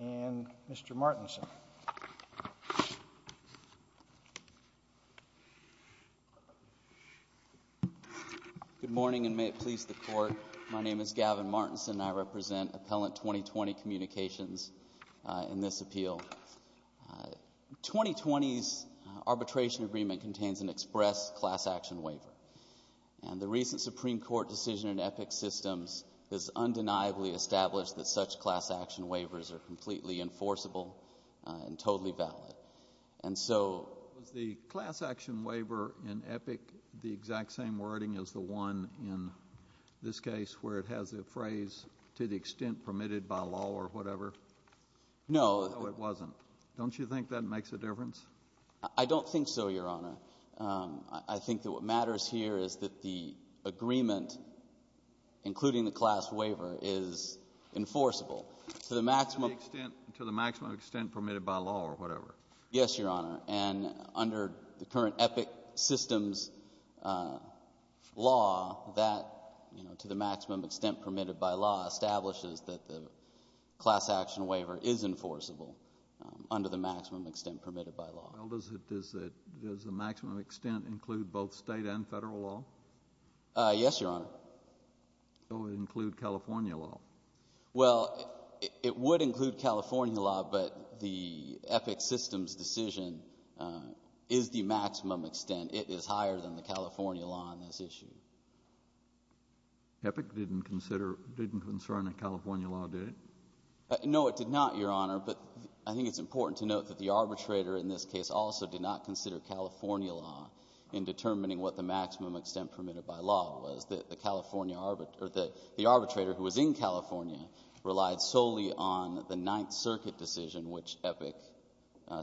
and Mr. Martinson. Good morning, and may it please the Court. My name is Gavin Martinson, and I represent Appellant 20-20 Communications in this appeal. 20-20's arbitration agreement contains an express class action waiver, and the recent Supreme Court decision in EPIC systems has undeniably established that such class action waivers are completely enforceable and totally valid. And so... Was the class action waiver in EPIC the exact same wording as the one in this case where it has the phrase, to the extent permitted by law or whatever? No. No, it wasn't. Don't you think that makes a difference? I don't think so, Your Honor. I think that what matters here is that the agreement, including the class waiver, is enforceable to the maximum... To the extent permitted by law or whatever. Yes, Your Honor, and under the current EPIC systems law, that, you know, to the maximum extent permitted by law establishes that the class action waiver is enforceable under the maximum extent permitted by law. Does the maximum extent include both State and Federal law? Yes, Your Honor. So it would include California law? Well, it would include California law, but the EPIC systems decision is the maximum extent. It is higher than the California law on this issue. EPIC didn't concern a California law, did it? No, it did not, Your Honor, but I think it's important to note that the arbitrator in this case also did not consider California law in determining what the maximum extent permitted by law was. The arbitrator who was in California relied solely on the Ninth Circuit decision, which EPIC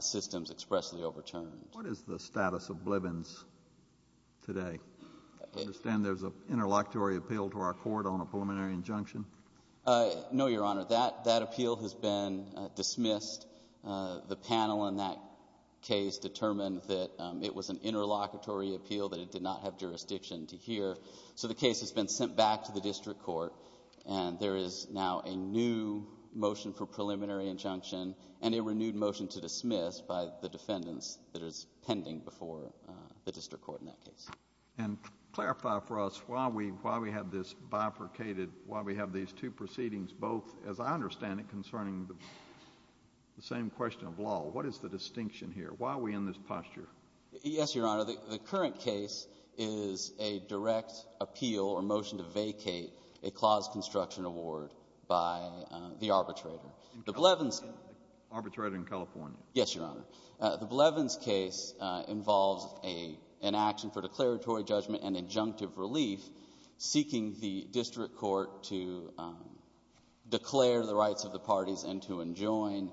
systems expressly overturned. What is the status of Blivens today? I understand there's an interlocutory appeal to our Court on a preliminary injunction. No, Your Honor. That appeal has been dismissed. The panel in that case determined that it was an interlocutory appeal, that it did not have jurisdiction to hear. So the case has been sent back to the district court, and there is now a new motion for preliminary injunction and a renewed motion to dismiss by the defendants that is pending before the district court in that case. And clarify for us why we have this bifurcated, why we have these two proceedings both, as I understand it, concerning the same question of law. What is the distinction here? Why are we in this posture? Yes, Your Honor. The current case is a direct appeal or motion to vacate a clause construction award by the arbitrator. Arbitrator in California? Yes, Your Honor. The Blevins case involves an action for declaratory judgment and injunctive relief seeking the district court to declare the rights of the parties and to enjoin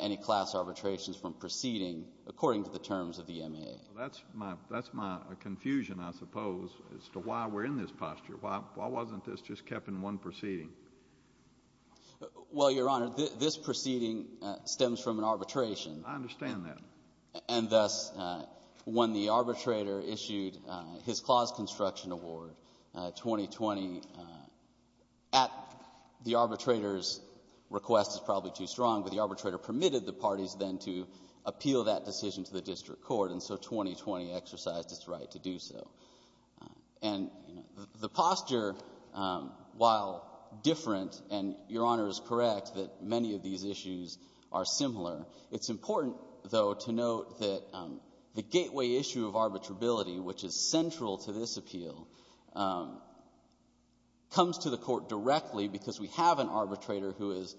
any class arbitrations from proceeding according to the terms of the MAA. That's my confusion, I suppose, as to why we're in this posture. Why wasn't this just kept in one proceeding? Well, Your Honor, this proceeding stems from an arbitration. I understand that. And thus, when the arbitrator issued his clause construction award, 2020, at the arbitrator's request is probably too strong, but the arbitrator permitted the parties then to appeal that decision to the district court, and so 2020 exercised its right to do so. And the posture, while different, and Your Honor is correct that many of these issues are similar, it's important, though, to note that the gateway issue of arbitrability, which is central to this appeal, comes to the court directly because we have an arbitrator who has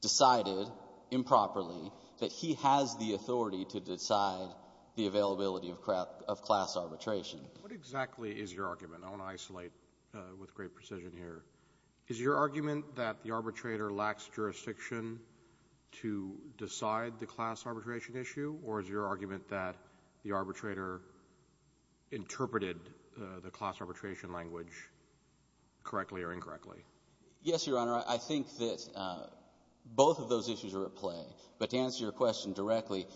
decided improperly that he has the authority to decide the availability of class arbitration. What exactly is your argument? I want to isolate with great precision here. Is your argument that the arbitrator lacks jurisdiction to decide the class arbitration issue, or is your argument that the arbitrator interpreted the class arbitration language correctly or incorrectly? Yes, Your Honor. I think that both of those issues are at play. But to answer your question directly,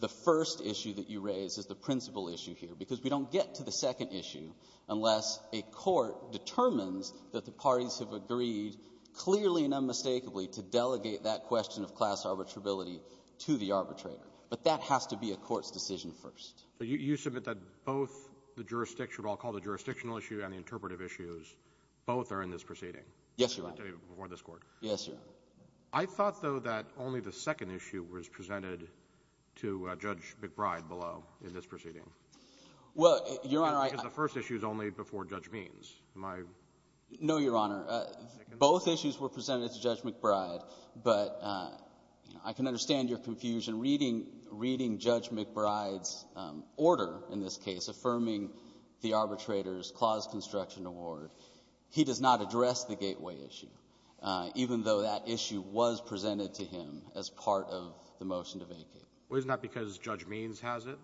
the first issue that you raise is the principal issue here, because we don't get to the second issue unless a court determines that the parties have agreed clearly and unmistakably to delegate that question of class arbitrability to the arbitrator. But that has to be a court's decision first. So you submit that both the jurisdictional, what I'll call the jurisdictional issue and the interpretive issues, both are in this proceeding. Yes, Your Honor. Before this Court. Yes, Your Honor. I thought, though, that only the second issue was presented to Judge McBride below in this proceeding. Well, Your Honor, I — Because the first issue is only before Judge Means. Am I — No, Your Honor. Both issues were presented to Judge McBride, but I can understand your confusion reading — reading Judge McBride's order in this case affirming the arbitrator's clause construction award. He does not address the gateway issue, even though that issue was presented to him as part of the motion to vacate. Well, isn't that because Judge Means has it?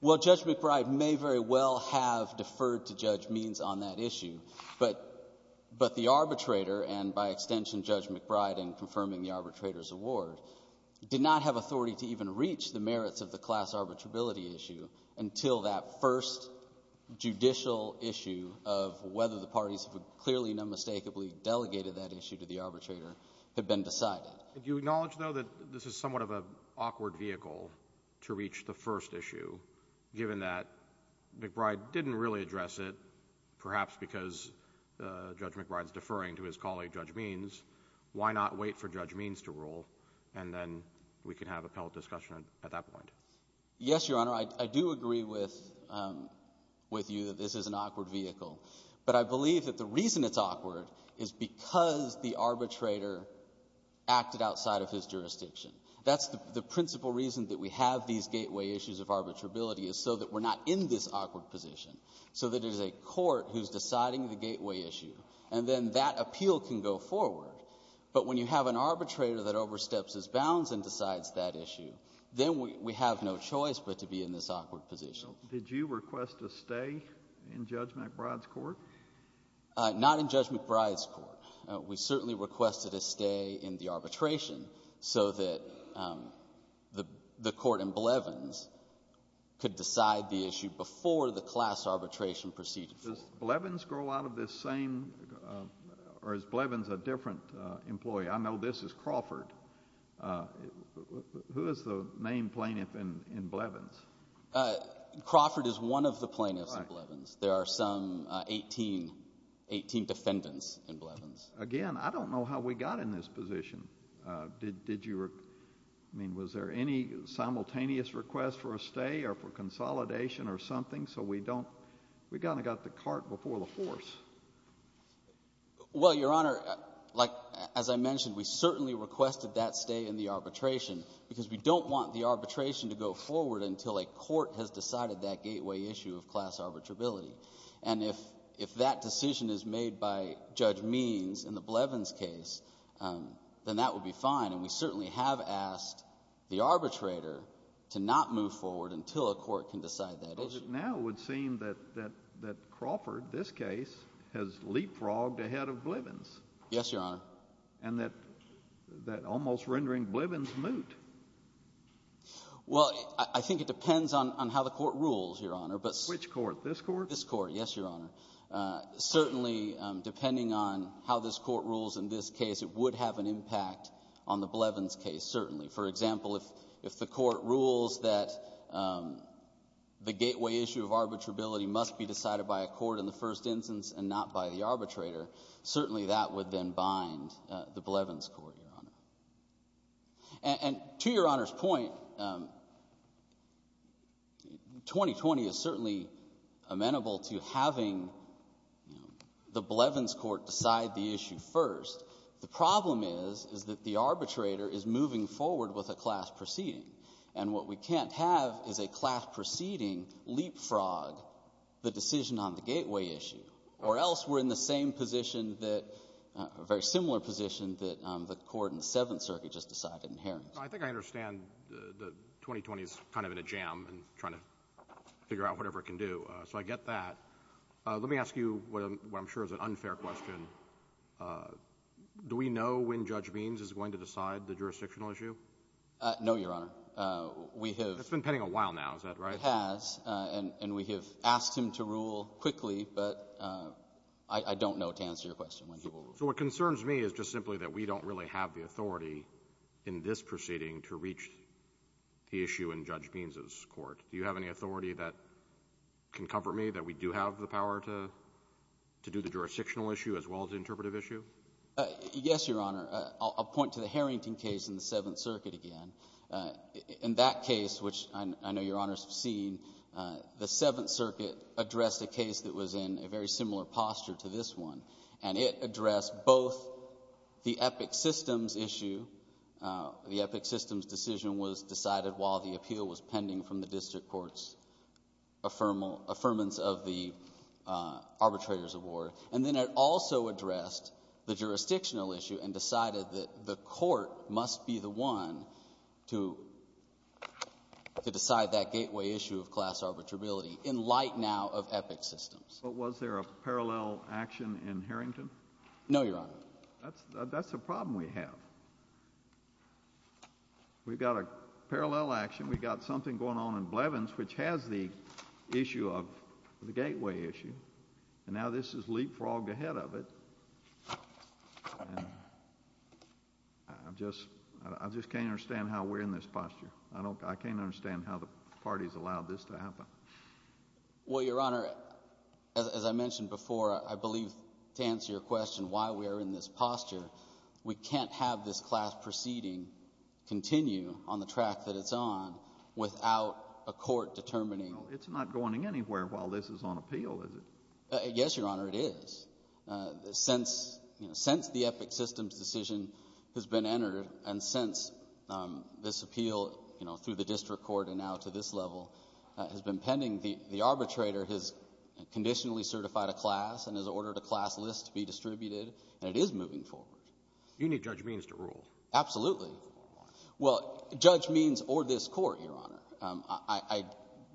Well, Judge McBride may very well have deferred to Judge Means on that issue, but — but the arbitrator and, by extension, Judge McBride in confirming the arbitrator's award did not have authority to even reach the merits of the class arbitrability issue until that first judicial issue of whether the parties have clearly and unmistakably delegated that issue to the arbitrator had been decided. Do you acknowledge, though, that this is somewhat of an awkward vehicle to reach the first issue, given that McBride didn't really address it, perhaps because Judge McBride's deferring to his colleague, Judge Means? Why not wait for Judge Means to rule, and then we can have appellate discussion at that point? Yes, Your Honor. I do agree with — with you that this is an awkward vehicle. But I believe that the reason it's awkward is because the arbitrator acted outside of his jurisdiction. That's the principal reason that we have these gateway issues of arbitrability, is so that we're not in this awkward position, so that it is a court who's deciding the gateway issue. And then that appeal can go forward. But when you have an arbitrator that oversteps his bounds and decides that issue, then we have no choice but to be in this awkward position. Did you request a stay in Judge McBride's court? Not in Judge McBride's court. We certainly requested a stay in the arbitration so that the court in Blevins could decide the issue before the class arbitration proceedings. Does Blevins grow out of this same — or is Blevins a different employee? I know this is Crawford. Who is the main plaintiff in Blevins? Crawford is one of the plaintiffs in Blevins. There are some 18 defendants in Blevins. Again, I don't know how we got in this position. Did you — I mean, was there any simultaneous request for a stay or for consolidation or something? So we don't — we kind of got the cart before the horse. Well, Your Honor, like as I mentioned, we certainly requested that stay in the arbitration because we don't want the arbitration to go forward until a court has decided that gateway issue of class arbitrability. And if that decision is made by Judge Means in the Blevins case, then that would be fine. And we certainly have asked the arbitrator to not move forward until a court can decide that issue. Because it now would seem that Crawford, this case, has leapfrogged ahead of Blevins. Yes, Your Honor. And that almost rendering Blevins moot. Well, I think it depends on how the court rules, Your Honor. Which court, this court? This court, yes, Your Honor. Certainly, depending on how this court rules in this case, it would have an impact on the Blevins case, certainly. For example, if the court rules that the gateway issue of arbitrability must be decided by a court in the first instance and not by the arbitrator, certainly that would then bind the Blevins court, Your Honor. And to Your Honor's point, 2020 is certainly amenable to having the Blevins court decide the issue first. The problem is, is that the arbitrator is moving forward with a class proceeding. And what we can't have is a class proceeding leapfrog the decision on the gateway issue, or else we're in the same position that, a very similar position, that the court in the Seventh Circuit just decided in Harington. I think I understand that 2020 is kind of in a jam and trying to figure out whatever it can do. So I get that. Let me ask you what I'm sure is an unfair question. Do we know when Judge Means is going to decide the jurisdictional issue? No, Your Honor. It's been pending a while now. Is that right? It has. And we have asked him to rule quickly, but I don't know to answer your question. So what concerns me is just simply that we don't really have the authority in this proceeding to reach the issue in Judge Means's court. Do you have any authority that can comfort me that we do have the power to do the jurisdictional issue as well as the interpretive issue? Yes, Your Honor. I'll point to the Harrington case in the Seventh Circuit again. In that case, which I know Your Honors have seen, the Seventh Circuit addressed a case that was in a very similar posture to this one, and it addressed both the Epic Systems issue. The Epic Systems decision was decided while the appeal was pending from the district court's affirmance of the arbitrator's award. And then it also addressed the jurisdictional issue and decided that the court must be the one to decide that gateway issue of class arbitrability in light now of Epic Systems. But was there a parallel action in Harrington? No, Your Honor. That's a problem we have. We've got a parallel action. We've got something going on in Blevins which has the issue of the gateway issue. And now this is leapfrogged ahead of it. I just can't understand how we're in this posture. I can't understand how the parties allowed this to happen. Well, Your Honor, as I mentioned before, I believe to answer your question why we are in this posture, we can't have this class proceeding continue on the track that it's on without a court determining— It's not going anywhere while this is on appeal, is it? Yes, Your Honor, it is. Since the Epic Systems decision has been entered and since this appeal through the district court and now to this level has been pending, the arbitrator has conditionally certified a class and has ordered a class list to be distributed, and it is moving forward. You need Judge Means to rule. Absolutely. Well, Judge Means or this Court, Your Honor. I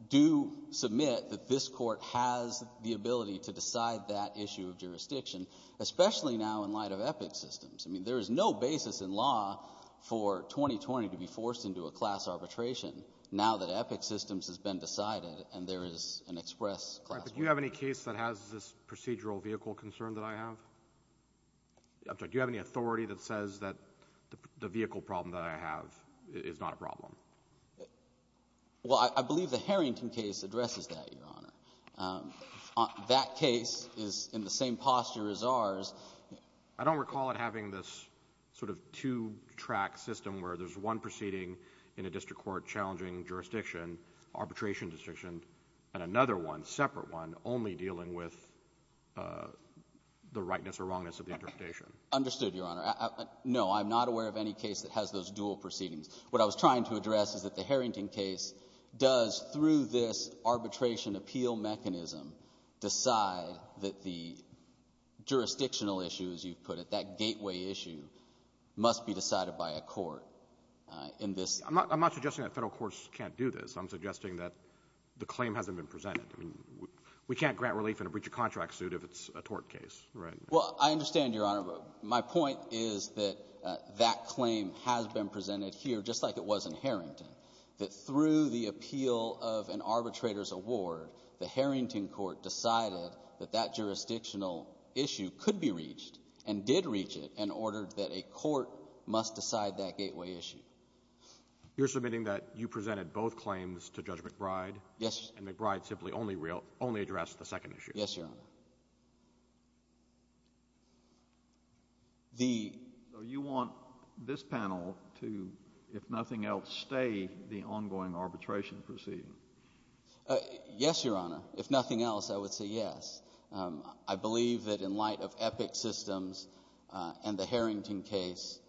do submit that this Court has the ability to decide that issue of jurisdiction, especially now in light of Epic Systems. I mean there is no basis in law for 2020 to be forced into a class arbitration now that Epic Systems has been decided and there is an express— All right. But do you have any case that has this procedural vehicle concern that I have? I'm sorry. Do you have any authority that says that the vehicle problem that I have is not a problem? Well, I believe the Harrington case addresses that, Your Honor. That case is in the same posture as ours. I don't recall it having this sort of two-track system where there's one proceeding in a district court challenging jurisdiction, arbitration jurisdiction, and another one, separate one, only dealing with the rightness or wrongness of the interpretation. Understood, Your Honor. No, I'm not aware of any case that has those dual proceedings. What I was trying to address is that the Harrington case does, through this arbitration appeal mechanism, decide that the jurisdictional issue, as you put it, that gateway issue, must be decided by a court in this— I'm not suggesting that Federal courts can't do this. I'm suggesting that the claim hasn't been presented. I mean we can't grant relief in a breach of contract suit if it's a tort case, right? Well, I understand, Your Honor. My point is that that claim has been presented here, just like it was in Harrington, that through the appeal of an arbitrator's award, the Harrington court decided that that jurisdictional issue could be reached and did reach it and ordered that a court must decide that gateway issue. You're submitting that you presented both claims to Judge McBride. Yes. And McBride simply only addressed the second issue. Yes, Your Honor. So you want this panel to, if nothing else, stay the ongoing arbitration proceeding? Yes, Your Honor. If nothing else, I would say yes. I believe that in light of EPIC systems and the Harrington case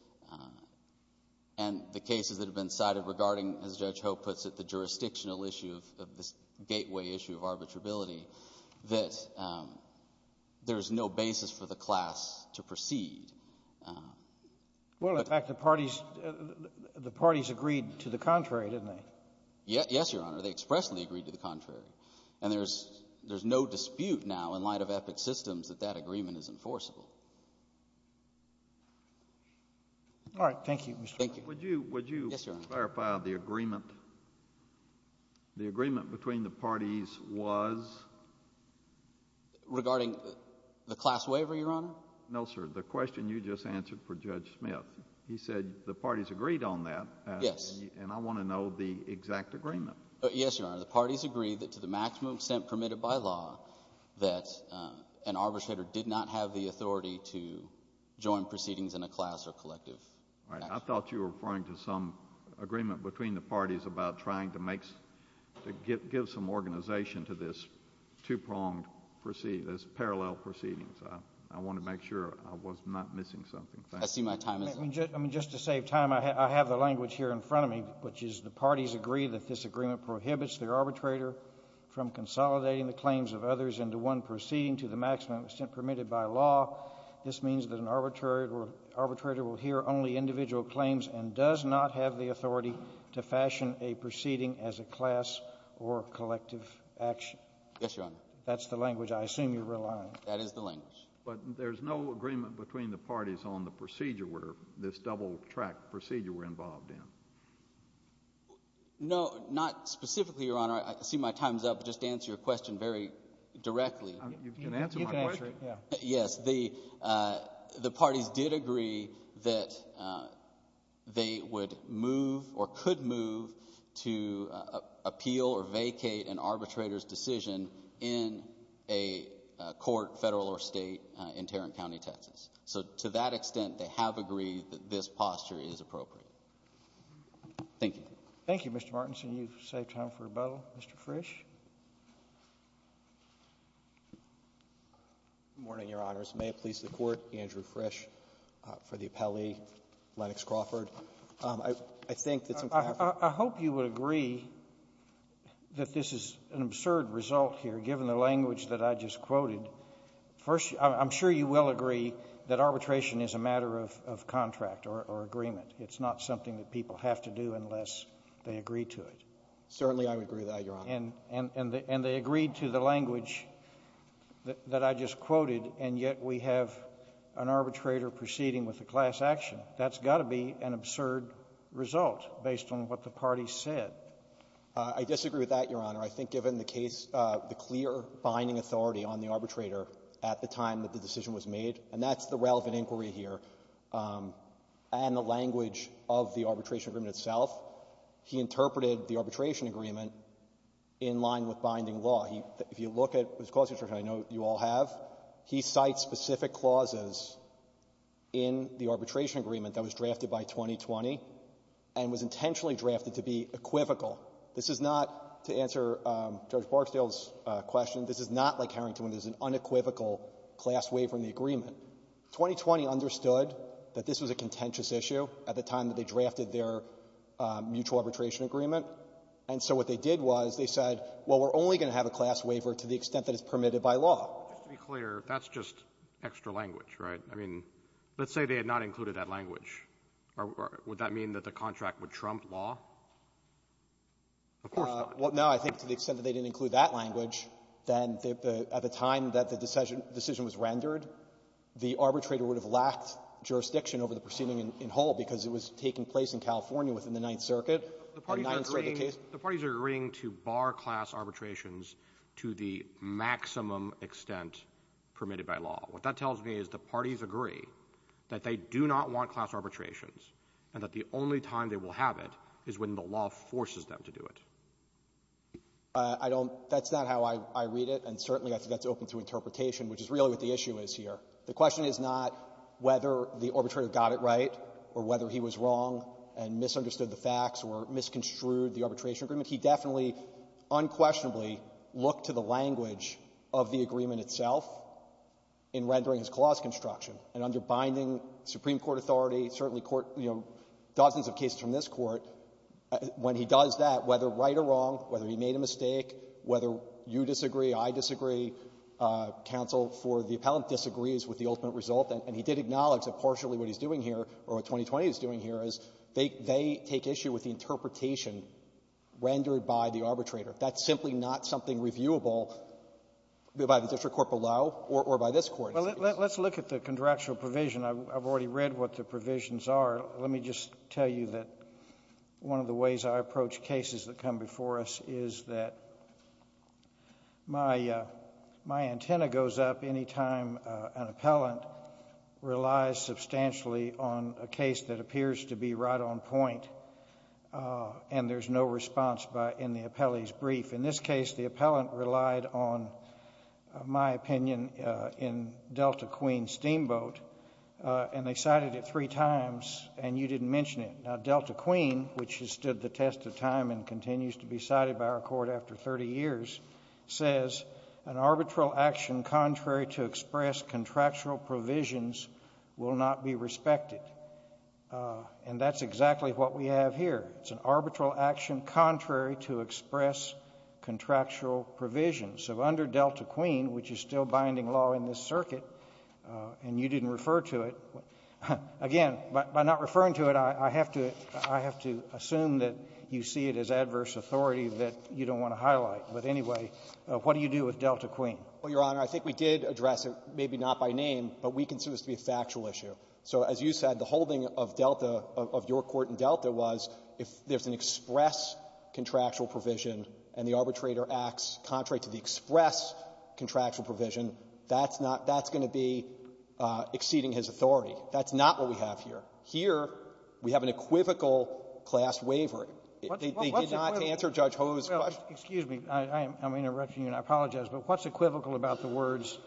and the cases that have been cited regarding, as Judge Hope puts it, the jurisdictional issue of this gateway issue of arbitrability, that there's no basis for the class to proceed. Well, in fact, the parties agreed to the contrary, didn't they? Yes, Your Honor. They expressly agreed to the contrary. And there's no dispute now in light of EPIC systems that that agreement is enforceable. All right. Thank you, Mr. McBride. Thank you. Mr. McBride, would you clarify the agreement? The agreement between the parties was? Regarding the class waiver, Your Honor? No, sir. The question you just answered for Judge Smith. He said the parties agreed on that. Yes. And I want to know the exact agreement. Yes, Your Honor. The parties agreed that to the maximum extent permitted by law, that an arbitrator did not have the authority to join proceedings in a class or collective action. All right. I thought you were referring to some agreement between the parties about trying to make to give some organization to this two-pronged proceeding, this parallel proceeding. So I want to make sure I was not missing something. Thank you. I see my time is up. I mean, just to save time, I have the language here in front of me, which is the parties agree that this agreement prohibits the arbitrator from consolidating the claims of others into one proceeding to the maximum extent permitted by law. This means that an arbitrator will hear only individual claims and does not have the authority to fashion a proceeding as a class or collective action. Yes, Your Honor. That's the language I assume you rely on. That is the language. But there's no agreement between the parties on the procedure where this double-track procedure we're involved in. No, not specifically, Your Honor. I see my time is up. Just to answer your question very directly. You can answer my question. Yes. The parties did agree that they would move or could move to appeal or vacate an arbitrator's decision in a court, Federal or State, in Tarrant County, Texas. So to that extent, they have agreed that this posture is appropriate. Thank you. Thank you, Mr. Martinson. You've saved time for rebuttal. Mr. Frisch. Good morning, Your Honors. May it please the Court, Andrew Frisch for the appellee, Lennox Crawford. I think that's important. I hope you would agree that this is an absurd result here, given the language that I just quoted. First, I'm sure you will agree that arbitration is a matter of contract or agreement. It's not something that people have to do unless they agree to it. Certainly I would agree with that, Your Honor. And they agreed to the language that I just quoted, and yet we have an arbitrator proceeding with a class action. That's got to be an absurd result based on what the parties said. I disagree with that, Your Honor. I think given the case, the clear binding authority on the arbitrator at the time that the decision was made, and that's the relevant inquiry here, and the language of the arbitration agreement itself, he interpreted the arbitration agreement in line with binding law. He — if you look at his clause instruction, I know you all have, he cites specific clauses in the arbitration agreement that was drafted by 2020 and was intentionally drafted to be equivocal. This is not, to answer Judge Barksdale's question, this is not like Harrington when there's an unequivocal class waiver in the agreement. 2020 understood that this was a contentious issue at the time that they drafted their mutual arbitration agreement, and so what they did was they said, well, we're only going to have a class waiver to the extent that it's permitted by law. Just to be clear, that's just extra language, right? I mean, let's say they had not included that language. Would that mean that the contract would trump law? Of course not. Well, no. I think to the extent that they didn't include that language, then at the time that the decision was rendered, the arbitrator would have lacked jurisdiction over the proceeding in Hull because it was taking place in California within the Ninth Circuit. The Ninth Circuit case — The parties are agreeing to bar class arbitrations to the maximum extent permitted by law. What that tells me is the parties agree that they do not want class arbitrations, and that the only time they will have it is when the law forces them to do it. I don't — that's not how I read it, and certainly I think that's open to interpretation, which is really what the issue is here. The question is not whether the arbitrator got it right or whether he was wrong and misunderstood the facts or misconstrued the arbitration agreement. He definitely unquestionably looked to the language of the agreement itself in rendering his clause construction and underbinding supreme court authority, certainly court — dozens of cases from this Court, when he does that, whether right or wrong, whether he made a mistake, whether you disagree, I disagree, counsel for the appellant disagrees with the ultimate result. And he did acknowledge that partially what he's doing here, or what 2020 is doing here, is they take issue with the interpretation rendered by the arbitrator. That's simply not something reviewable by the district court below or by this Court. Well, let's look at the contractual provision. I've already read what the provisions are. Let me just tell you that one of the ways I approach cases that come before us is that my — my antenna goes up any time an appellant relies substantially on a case that appears to be right on point and there's no response by — in the appellee's brief. In this case, the appellant relied on, in my opinion, in Delta Queen's steamboat, and they cited it three times, and you didn't mention it. Now, Delta Queen, which has stood the test of time and continues to be cited by our Court after 30 years, says an arbitral action contrary to express contractual provisions will not be respected. And that's exactly what we have here. It's an arbitral action contrary to express contractual provisions. So under Delta Queen, which is still binding law in this circuit, and you didn't refer to it, again, by not referring to it, I have to — I have to assume that you see it as adverse authority that you don't want to highlight. But anyway, what do you do with Delta Queen? Well, Your Honor, I think we did address it, maybe not by name, but we consider this to be a factual issue. So as you said, the holding of Delta, of your court in Delta, was if there's an express contractual provision and the arbitrator acts contrary to the express contractual provision, that's not — that's going to be exceeding his authority. That's not what we have here. Here, we have an equivocal class wavering. They did not answer Judge Ho's question. Well, excuse me. I'm interrupting you, and I apologize. But what's equivocal about the words,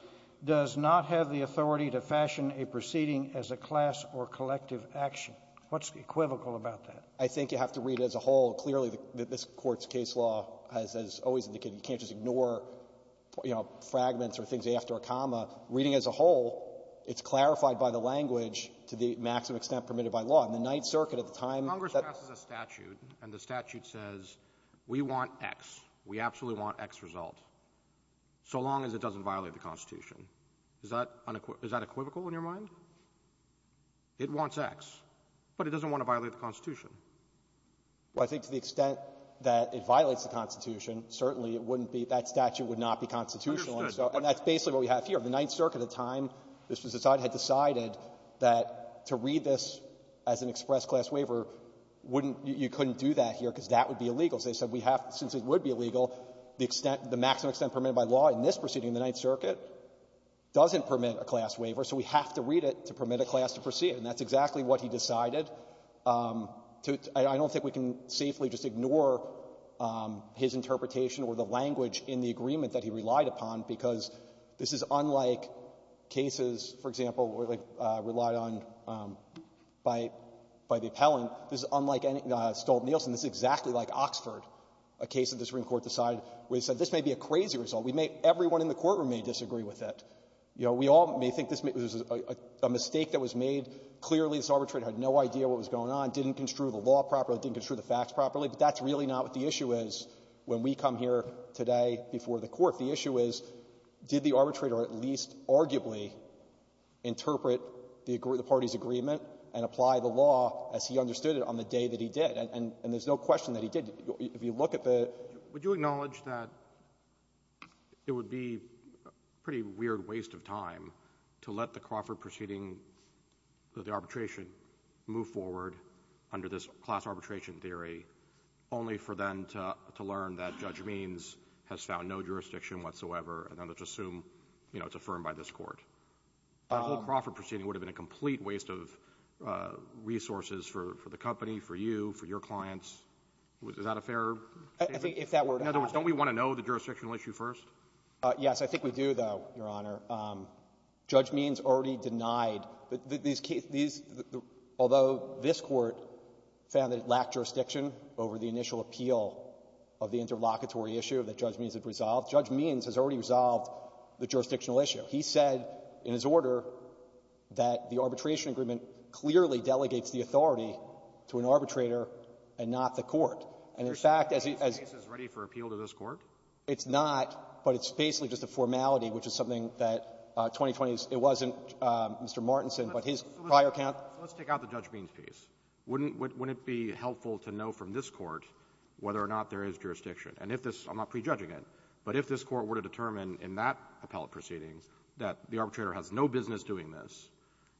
does not have the authority to fashion a proceeding as a class or collective action? What's equivocal about that? I think you have to read it as a whole. Clearly, this Court's case law has always indicated you can't just ignore, you know, fragments or things after a comma. Reading it as a whole, it's clarified by the language to the maximum extent permitted by law. In the Ninth Circuit at the time that — Congress passes a statute, and the statute says we want X. We absolutely want X result, so long as it doesn't violate the Constitution. Is that unequivocal? Is that equivocal in your mind? It wants X, but it doesn't want to violate the Constitution. Well, I think to the extent that it violates the Constitution, certainly it wouldn't be — that statute would not be constitutional. And so that's basically what we have here. The Ninth Circuit at the time this was decided, had decided that to read this as an express class waiver wouldn't — you couldn't do that here because that would be illegal. So they said we have — since it would be illegal, the extent — the maximum extent permitted by law in this proceeding, the Ninth Circuit, doesn't permit a class waiver, so we have to read it to permit a class to proceed. And that's exactly what he decided. I don't think we can safely just ignore his interpretation or the language in the agreement that he relied upon, because this is unlike cases, for example, where they relied on — by the appellant. This is unlike any — Stolt-Nielsen. This is exactly like Oxford, a case that the Supreme Court decided where they said this may be a crazy result. We may — everyone in the courtroom may disagree with it. You know, we all may think this was a mistake that was made. Clearly, this arbitrator had no idea what was going on, didn't construe the law properly, didn't construe the facts properly. But that's really not what the issue is when we come here today before the Court. The issue is, did the arbitrator at least arguably interpret the party's agreement and apply the law as he understood it on the day that he did? And there's no question that he did. If you look at the —— Would you acknowledge that it would be a pretty weird waste of time to let the Crawford proceeding, the arbitration, move forward under this class arbitration theory only for them to learn that Judge Means has found no jurisdiction whatsoever, and then to assume, you know, it's affirmed by this Court? That whole Crawford proceeding would have been a complete waste of resources for the company, for you, for your clients. Is that a fair statement? — In other words, don't we want to know the jurisdictional issue first? — Yes. I think we do, though, Your Honor. Judge Means already denied that these — although this Court found that it lacked jurisdiction over the initial appeal of the interlocutory issue that Judge Means had resolved, Judge Means has already resolved the jurisdictional issue. He said in his order that the arbitration agreement clearly delegates the authority to an arbitrator and not the court. And in fact, as he —— So this case is ready for appeal to this Court? — It's not, but it's basically just a formality, which is something that 2020's — it wasn't Mr. Martinson, but his prior account —— So let's take out the Judge Means piece. Wouldn't — wouldn't it be helpful to know from this Court whether or not there is jurisdiction? And if this — I'm not prejudging it, but if this Court were to determine in that appellate proceedings that the arbitrator has no business doing this,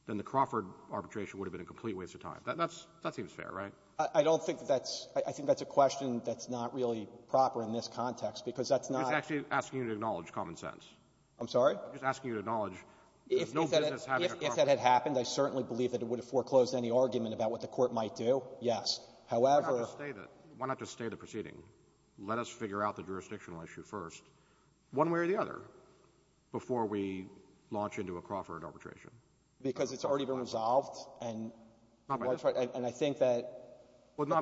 then the Crawford arbitration would have been a complete waste of time. That's — that seems fair, right? — I don't think that's — I think that's a question that's not really proper in this context, because that's not —— I'm just actually asking you to acknowledge common sense. — I'm sorry? — I'm just asking you to acknowledge there's no business having a Crawford —— If that had happened, I certainly believe that it would have foreclosed any argument about what the Court might do, yes. However —— Why not just stay the — why not just stay the proceeding? Let us figure out the jurisdictional issue first, one way or the other, before — Because it's already been resolved, and —— Not by this Court. — I would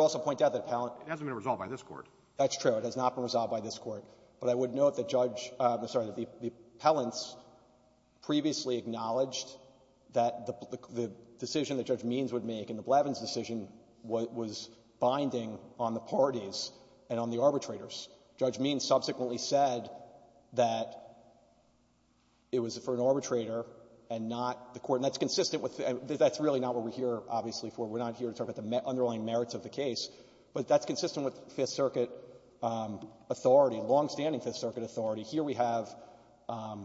also point out that appellant —— It hasn't been resolved by this Court. — That's true. It has not been resolved by this Court. But I would note that Judge — I'm sorry, that the appellants previously acknowledged that the decision that Judge Means would make in the Blevins decision was binding on the parties and on the arbitrators. Judge Means subsequently said that it was for an arbitrator and not the Court. And that's consistent with — that's really not what we're here, obviously, for. We're not here to talk about the underlying merits of the case. But that's consistent with Fifth Circuit authority, longstanding Fifth Circuit authority. Here we have a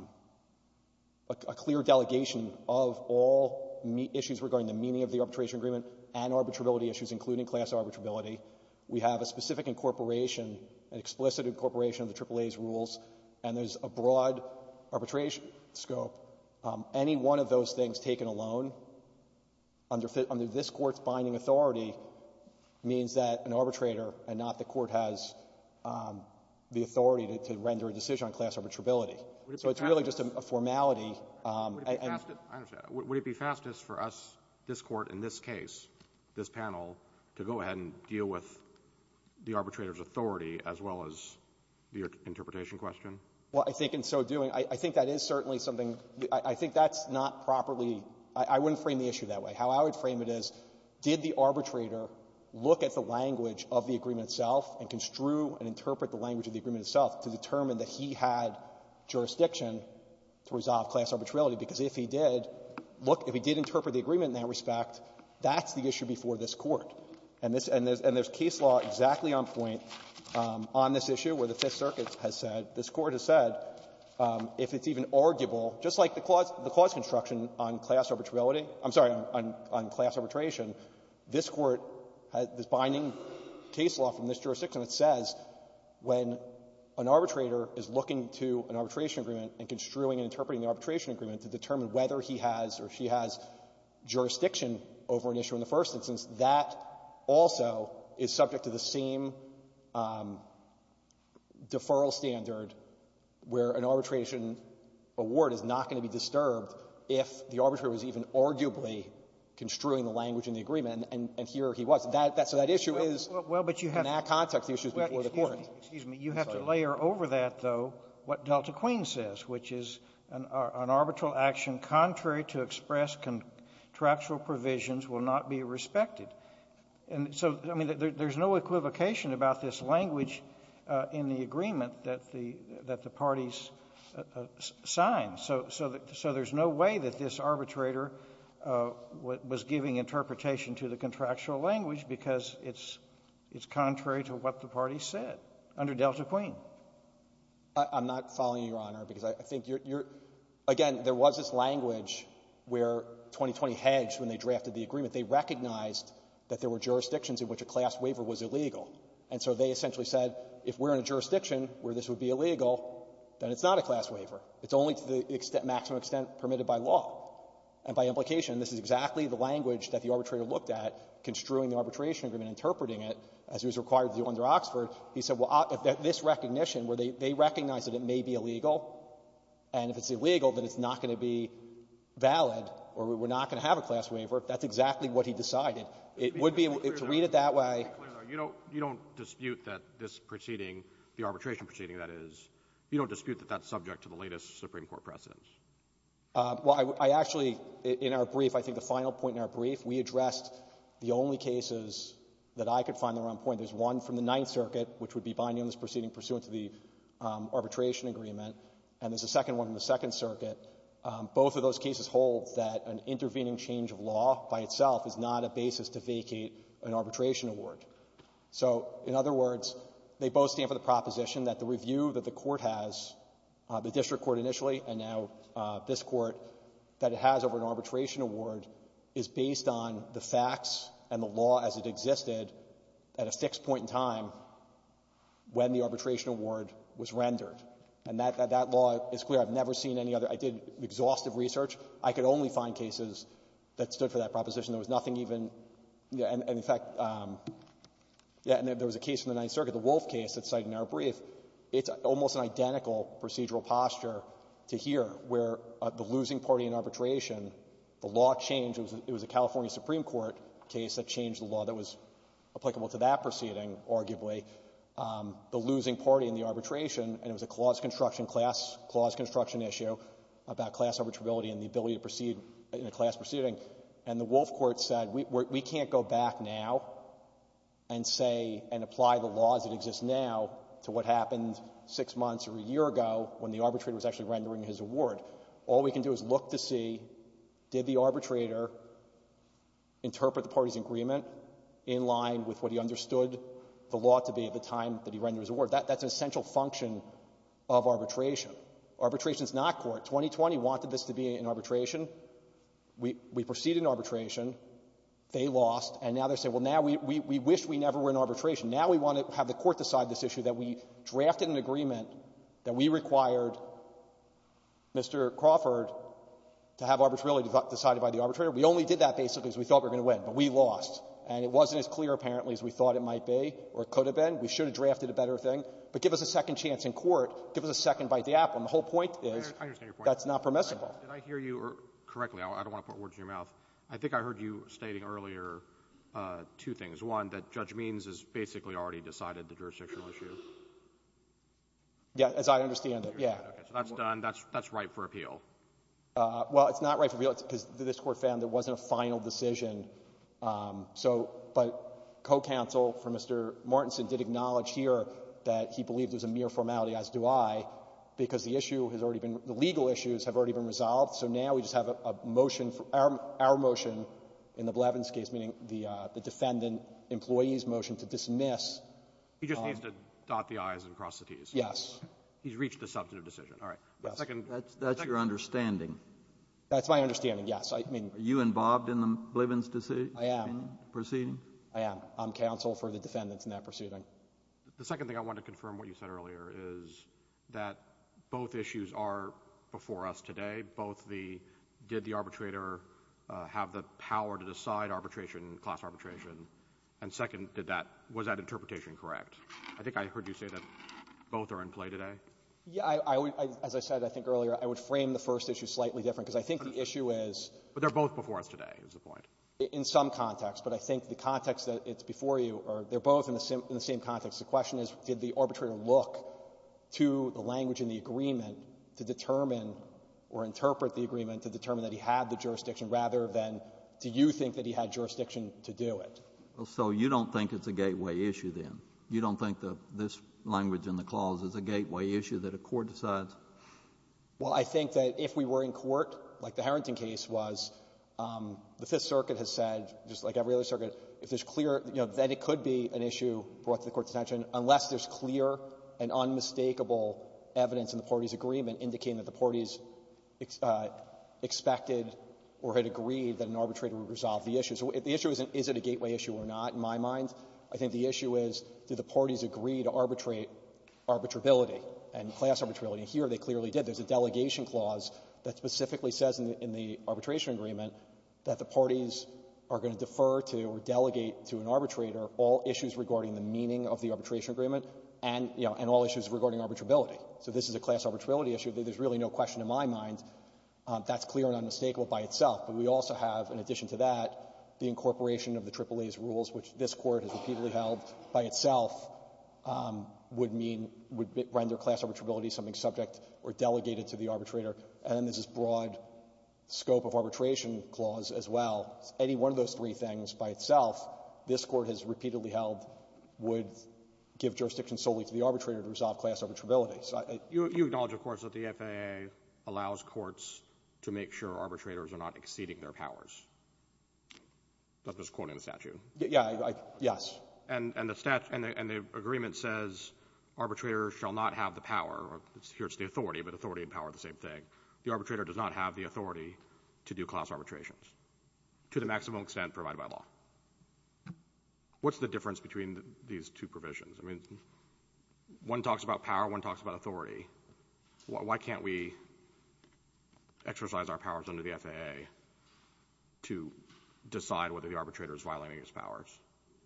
clear delegation of all issues regarding the meaning of the arbitration agreement and arbitrability issues, including class arbitrability. We have a specific incorporation, an explicit incorporation of the AAA's rules. And there's a broad arbitration scope. Any one of those things taken alone under this Court's binding authority means that an arbitrator and not the Court has the authority to render a decision on class arbitrability. So it's really just a formality. And — Roberts. Would it be fastest for us, this Court, in this case, this panel, to go ahead and deal with the arbitrator's authority as well as the interpretation question? Well, I think in so doing, I think that is certainly something — I think that's not properly — I wouldn't frame the issue that way. How I would frame it is, did the arbitrator look at the language of the agreement itself and construe and interpret the language of the agreement itself to determine that he had jurisdiction to resolve class arbitrability? Because if he did, look, if he did interpret the agreement in that respect, that's the issue before this Court. And this — and there's case law exactly on point on this issue where the Fifth Circuit has said, if it's even arguable, just like the clause — the clause construction on class arbitrability — I'm sorry, on — on class arbitration, this Court has this binding case law from this jurisdiction that says, when an arbitrator is looking to an arbitration agreement and construing and interpreting the arbitration agreement to determine whether he has or she has jurisdiction over an issue in the first instance, that also is subject to the same deferral standard that would apply where an arbitration award is not going to be disturbed if the arbitrator was even arguably construing the language in the agreement, and here he was. That — so that issue is in that context the issue before the Court. Kennedy, you have to layer over that, though, what Delta Queen says, which is an arbitral action contrary to express contractual provisions will not be respected. And so, I mean, there's no equivocation about this language in the agreement that the — that the parties signed. So — so there's no way that this arbitrator was giving interpretation to the contractual language because it's — it's contrary to what the parties said under Delta Queen. I'm not following you, Your Honor, because I think you're — again, there was this language where 2020 hedged when they drafted the agreement. They recognized that there were jurisdictions in which a class waiver was illegal. And so they essentially said, if we're in a jurisdiction where this would be illegal, then it's not a class waiver. It's only to the extent — maximum extent permitted by law. And by implication, this is exactly the language that the arbitrator looked at construing the arbitration agreement, interpreting it as it was required to do under Oxford. He said, well, this recognition, where they — they recognized that it may be illegal, and if it's illegal, then it's not going to be valid, or we're not going to have a class waiver, if that's exactly what he decided. It would be — to read it that way — You don't — you don't dispute that this proceeding, the arbitration proceeding, that is, you don't dispute that that's subject to the latest Supreme Court precedents? Well, I — I actually — in our brief, I think the final point in our brief, we addressed the only cases that I could find that were on point. There's one from the Ninth Circuit, which would be binding on this proceeding pursuant to the arbitration agreement, and there's a second one in the Second Circuit. Both of those cases hold that an intervening change of law by itself is not a basis to vacate an arbitration award. So, in other words, they both stand for the proposition that the review that the court has, the district court initially and now this court, that it has over an arbitration award is based on the facts and the law as it existed at a fixed point in time when the arbitration award was rendered. And that — that law is clear. I've never seen any other — I did exhaustive research. I could only find cases that stood for that Yeah. And there was a case in the Ninth Circuit, the Wolf case that's cited in our brief. It's almost an identical procedural posture to here, where the losing party in arbitration, the law changed. It was a California Supreme Court case that changed the law that was applicable to that proceeding, arguably. The losing party in the arbitration, and it was a clause construction — class — clause construction issue about class arbitrability and the ability to proceed in a class proceeding. And the Wolf court said, we can't go back now and say — and apply the laws that exist now to what happened six months or a year ago when the arbitrator was actually rendering his award. All we can do is look to see, did the arbitrator interpret the party's agreement in line with what he understood the law to be at the time that he rendered his award? That's an essential function of arbitration. Arbitration is not court. 2020 wanted this to be an arbitration. We — we proceeded in arbitration. They lost. And now they're saying, well, now we — we wish we never were in arbitration. Now we want to have the court decide this issue, that we drafted an agreement that we required Mr. Crawford to have arbitrarily decided by the arbitrator. We only did that, basically, because we thought we were going to win. But we lost. And it wasn't as clear, apparently, as we thought it might be or could have been. We should have drafted a better thing. But give us a second chance in court. Give us a second bite to Apple. And the whole point is — I understand your point. — that's not permissible. Did I hear you correctly? I don't want to put words in your mouth. I think I heard you stating earlier two things. One, that Judge Means has basically already decided the jurisdictional issue. Yeah, as I understand it, yeah. Okay, so that's done. That's — that's right for appeal. Well, it's not right for appeal because this court found there wasn't a final decision. So — but co-counsel for Mr. Martinson did acknowledge here that he believed there's a mere formality, as do I, because the issue has already been — the legal issues have already been resolved. So now we just have a motion — our motion in the Blevins case, meaning the defendant employee's motion to dismiss — He just needs to dot the i's and cross the t's. Yes. He's reached a substantive decision. All right. The second — That's your understanding. That's my understanding, yes. I mean — Are you involved in the Blevins decision? I am. Proceeding? I am. I'm counsel for the defendants in that proceeding. The second thing I want to confirm, what you said earlier, is that both issues are before us today. Both the — did the arbitrator have the power to decide arbitration, class arbitration? And second, did that — was that interpretation correct? I think I heard you say that both are in play today. Yeah, I would — as I said, I think, earlier, I would frame the first issue slightly different because I think the issue is — But they're both before us today, is the point. In some context. But I think the context that it's before you are — they're both in the same context. The question is, did the arbitrator look to the language in the agreement to determine or interpret the agreement to determine that he had the jurisdiction, rather than, do you think that he had jurisdiction to do it? So you don't think it's a gateway issue, then? You don't think that this language in the clause is a gateway issue that a court decides? Well, I think that if we were in court, like the Harrington case was, the Fifth Circuit has said, just like every other circuit, if there's clear — you know, then it could be an issue brought to the court's attention unless there's clear and unmistakable evidence in the party's agreement indicating that the party's expected or had agreed that an arbitrator would resolve the issue. So if the issue isn't — is it a gateway issue or not, in my mind, I think the issue is, did the parties agree to arbitrate arbitrability and class arbitrability? And here, they clearly did. There's a delegation clause that specifically says in the arbitration agreement that the parties are going to defer to or delegate to an arbitrator all issues regarding the meaning of the arbitration agreement and, you know, and all issues regarding arbitrability. So this is a class arbitrability issue. There's really no question in my mind that's clear and unmistakable by itself. But we also have, in addition to that, the incorporation of the AAA's rules, which this Court has repeatedly held by itself would mean — would render class arbitrability something subject or delegated to the arbitrator. And then there's this broad scope of arbitration clause as well. Any one of those three things by itself, this Court has repeatedly held would give jurisdiction solely to the arbitrator to resolve class arbitrability. So I — Roberts. You acknowledge, of course, that the FAA allows courts to make sure arbitrators That's just quoting the statute. Yeah, I — yes. And the statute — and the agreement says arbitrators shall not have the power — here it's the authority, but authority and power are the same thing. The arbitrator does not have the authority to do class arbitrations to the maximum extent provided by law. What's the difference between these two provisions? I mean, one talks about power, one talks about authority. Why can't we exercise our powers under the FAA to decide whether the arbitrator is violating his powers?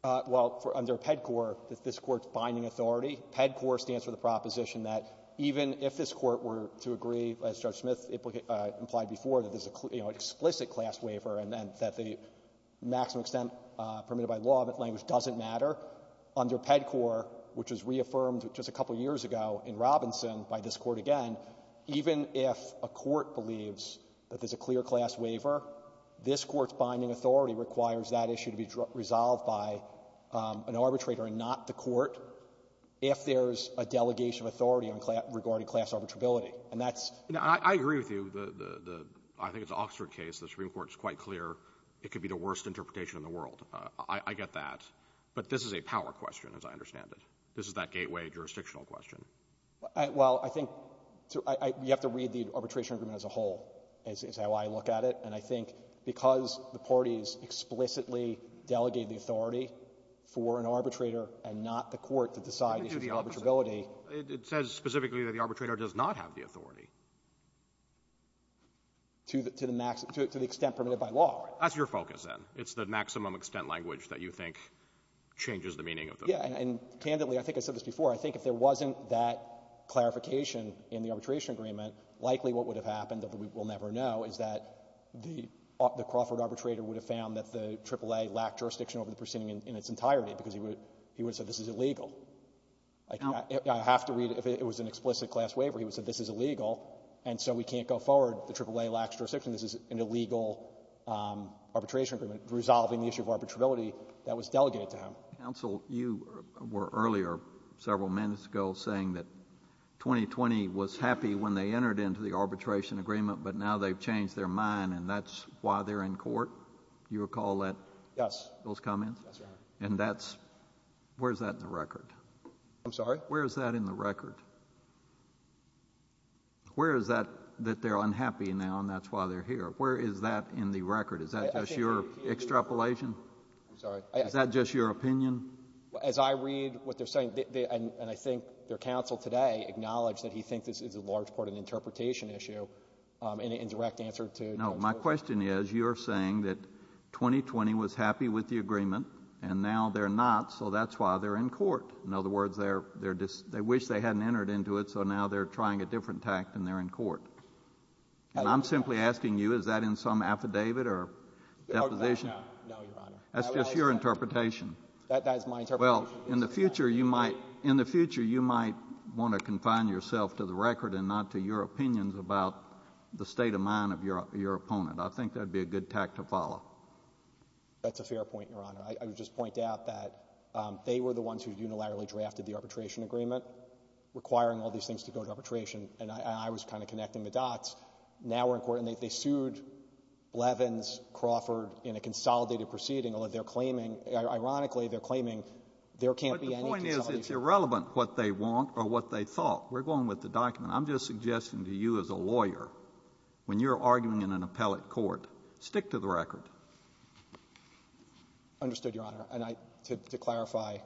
Well, under PEDCOR, this Court's binding authority, PEDCOR stands for the proposition that even if this Court were to agree, as Judge Smith implied before, that there's a, you know, an explicit class waiver and then that the maximum extent permitted by law of that language doesn't matter, under PEDCOR, which was reaffirmed just a couple of years ago in Robinson by this Court again, even if a court believes that there's a clear class waiver, this Court's binding authority requires that the issue to be resolved by an arbitrator and not the court if there's a delegation of authority regarding class arbitrability. And that's — I agree with you. The — I think it's an Oxford case. The Supreme Court is quite clear it could be the worst interpretation in the world. I get that. But this is a power question, as I understand it. This is that gateway jurisdictional question. Well, I think you have to read the arbitration agreement as a whole is how I look at it. And I think because the parties explicitly delegate the authority for an arbitrator and not the court to decide the issue of arbitrability — It says specifically that the arbitrator does not have the authority. To the — to the extent permitted by law. That's your focus, then. It's the maximum extent language that you think changes the meaning of the — Yeah. And candidly, I think I said this before, I think if there wasn't that clarification in the arbitration agreement, likely what would have happened that we will never know is that the Crawford arbitrator would have found that the AAA lacked jurisdiction over the proceeding in its entirety because he would have said this is illegal. I have to read it. If it was an explicit class waiver, he would have said this is illegal, and so we can't go forward. The AAA lacks jurisdiction. This is an illegal arbitration agreement resolving the issue of arbitrability that was delegated to him. Counsel, you were earlier, several minutes ago, saying that 2020 was happy when they changed their mind, and that's why they're in court. Do you recall that? Yes. Those comments? Yes, Your Honor. And that's — where's that in the record? I'm sorry? Where is that in the record? Where is that that they're unhappy now, and that's why they're here? Where is that in the record? Is that just your extrapolation? I'm sorry. Is that just your opinion? As I read what they're saying, and I think their counsel today acknowledged that he thinks this is in large part an interpretation issue and a direct answer to Judge Goldstein. No. My question is, you're saying that 2020 was happy with the agreement, and now they're not, so that's why they're in court. In other words, they're — they wish they hadn't entered into it, so now they're trying a different tact, and they're in court. And I'm simply asking you, is that in some affidavit or deposition? No, Your Honor. That's just your interpretation. That's my interpretation. Well, in the future, you might — in the future, you might want to confine yourself to the record and not to your opinions about the state of mind of your opponent. I think that would be a good tact to follow. That's a fair point, Your Honor. I would just point out that they were the ones who unilaterally drafted the arbitration agreement, requiring all these things to go to arbitration, and I was kind of connecting the dots. Now we're in court, and they sued Blevins, Crawford in a consolidated proceeding, and they're claiming — ironically, they're claiming there can't be any consolidation. But the point is, it's irrelevant what they want or what they thought. We're going with the document. I'm just suggesting to you as a lawyer, when you're arguing in an appellate court, stick to the record. Understood, Your Honor. And I — to clarify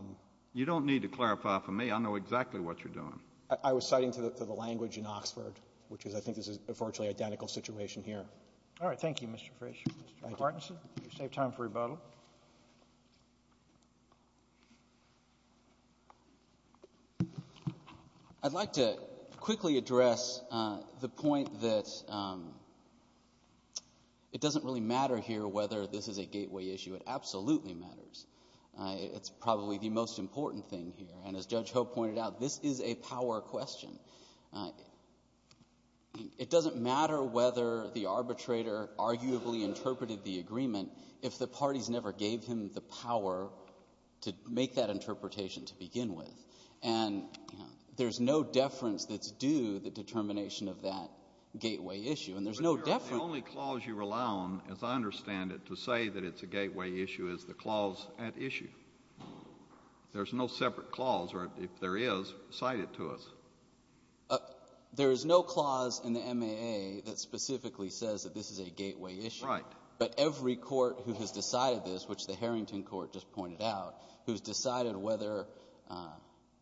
— You don't need to clarify for me. I know exactly what you're doing. I was citing to the language in Oxford, which is I think this is a virtually identical situation here. All right. Thank you, Mr. Frisch. Mr. Martinson, you saved time for rebuttal. I'd like to quickly address the point that it doesn't really matter here whether this is a gateway issue. It absolutely matters. It's probably the most important thing here. And as Judge Ho pointed out, this is a power question. It doesn't matter whether the arbitrator arguably interpreted the agreement. If the parties never gave him the power to make that interpretation to begin with and there's no deference that's due the determination of that gateway issue, and there's no deference — But, Your Honor, the only clause you rely on, as I understand it, to say that it's a gateway issue is the clause at issue. There's no separate clause, or if there is, cite it to us. There is no clause in the MAA that specifically says that this is a gateway issue. Right. But every court who has decided this, which the Harrington Court just pointed out, who's decided whether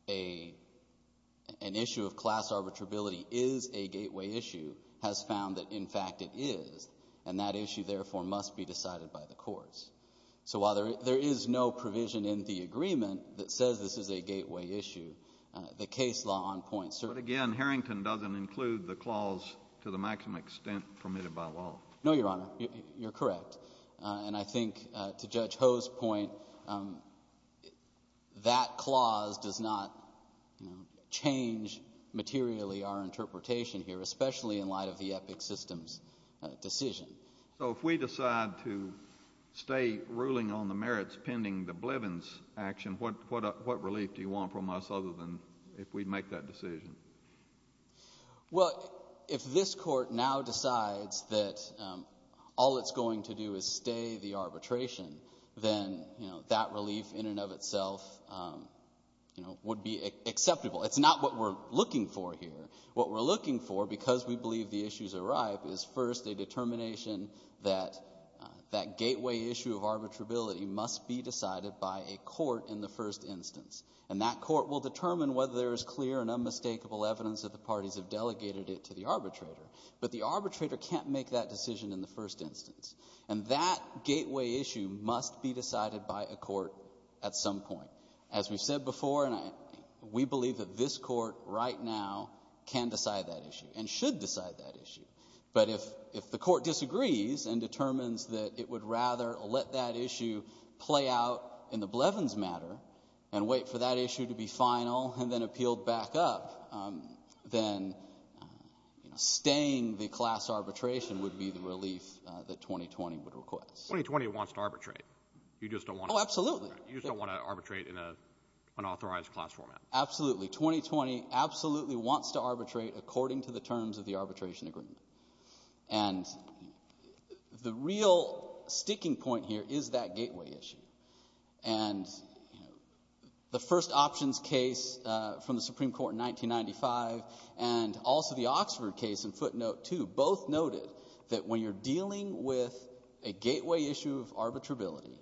an issue of class arbitrability is a gateway issue, has found that, in fact, it is. And that issue, therefore, must be decided by the courts. So while there is no provision in the agreement that says this is a gateway issue, the case law on point certainly — But, again, Harrington doesn't include the clause to the maximum extent permitted by law. No, Your Honor. You're correct. And I think, to Judge Ho's point, that clause does not change materially our interpretation here, especially in light of the Epic Systems decision. So if we decide to stay ruling on the merits pending the Blevins action, what relief do you want from us other than if we make that decision? Well, if this court now decides that all it's going to do is stay the arbitration, then that relief in and of itself would be acceptable. It's not what we're looking for here. What we're looking for, because we believe the issues are ripe, is first a determination that that gateway issue of arbitrability must be decided by a court in the first instance. And that court will determine whether there is clear and unmistakable evidence that the parties have delegated it to the arbitrator. But the arbitrator can't make that decision in the first instance. And that gateway issue must be decided by a court at some point. As we've said before, we believe that this court right now can decide that issue and should decide that issue. But if the court disagrees and determines that it would rather let that issue play out in the Blevins matter and wait for that issue to be final and then appealed back up, then staying the class arbitration would be the relief that 2020 would request. 2020 wants to arbitrate. You just don't want to arbitrate. Oh, absolutely. You just don't want to arbitrate in an unauthorized class format. Absolutely. 2020 absolutely wants to arbitrate according to the terms of the arbitration agreement. And the real sticking point here is that gateway issue. And the first options case from the Supreme Court in 1995 and also the Oxford case in footnote 2 both noted that when you're dealing with a gateway issue of arbitrability,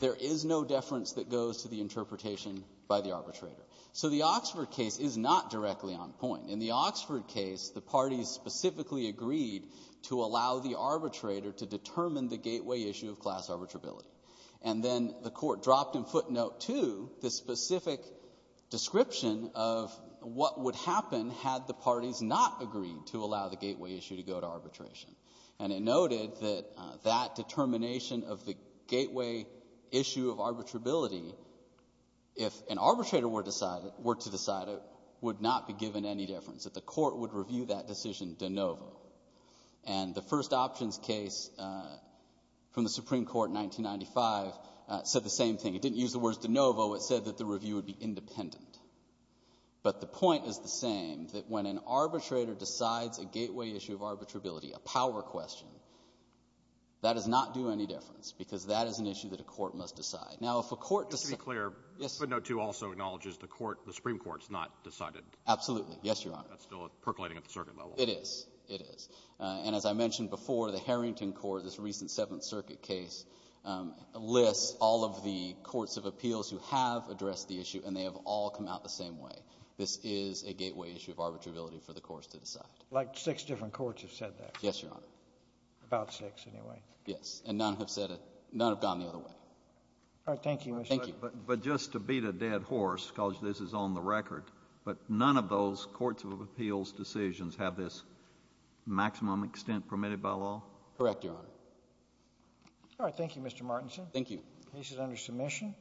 there is no deference that goes to the interpretation by the arbitrator. So the Oxford case is not directly on point. In the Oxford case, the parties specifically agreed to allow the arbitrator to determine the gateway issue of class arbitrability. And then the court dropped in footnote 2 the specific description of what would happen had the parties not agreed to allow the gateway issue to go to arbitration. And it noted that that determination of the gateway issue of arbitrability, if an arbitrator were to decide it, would not be given any deference, that the court would review that decision de novo. And the first options case from the Supreme Court in 1995 said the same thing. It didn't use the words de novo. It said that the review would be independent. But the point is the same, that when an arbitrator decides a gateway issue of arbitrability, a power question, that does not do any deference because that is an issue that a court must decide. Now, if a court decides — To be clear, footnote 2 also acknowledges the Supreme Court's not decided. Absolutely. Yes, Your Honor. That's still percolating at the circuit level. It is. It is. And as I mentioned before, the Harrington Court, this recent Seventh Circuit case, lists all of the courts of appeals who have addressed the issue, and they have all come out the same way. This is a gateway issue of arbitrability for the courts to decide. Like six different courts have said that. Yes, Your Honor. About six, anyway. Yes. And none have said it — none have gone the other way. All right. Thank you, Mr. — Thank you. But just to beat a dead horse, because this is on the record, but none of those courts of appeals decisions have this maximum extent permitted by law? Correct, Your Honor. All right. Thank you, Mr. Martinson. Thank you. The case is under submission.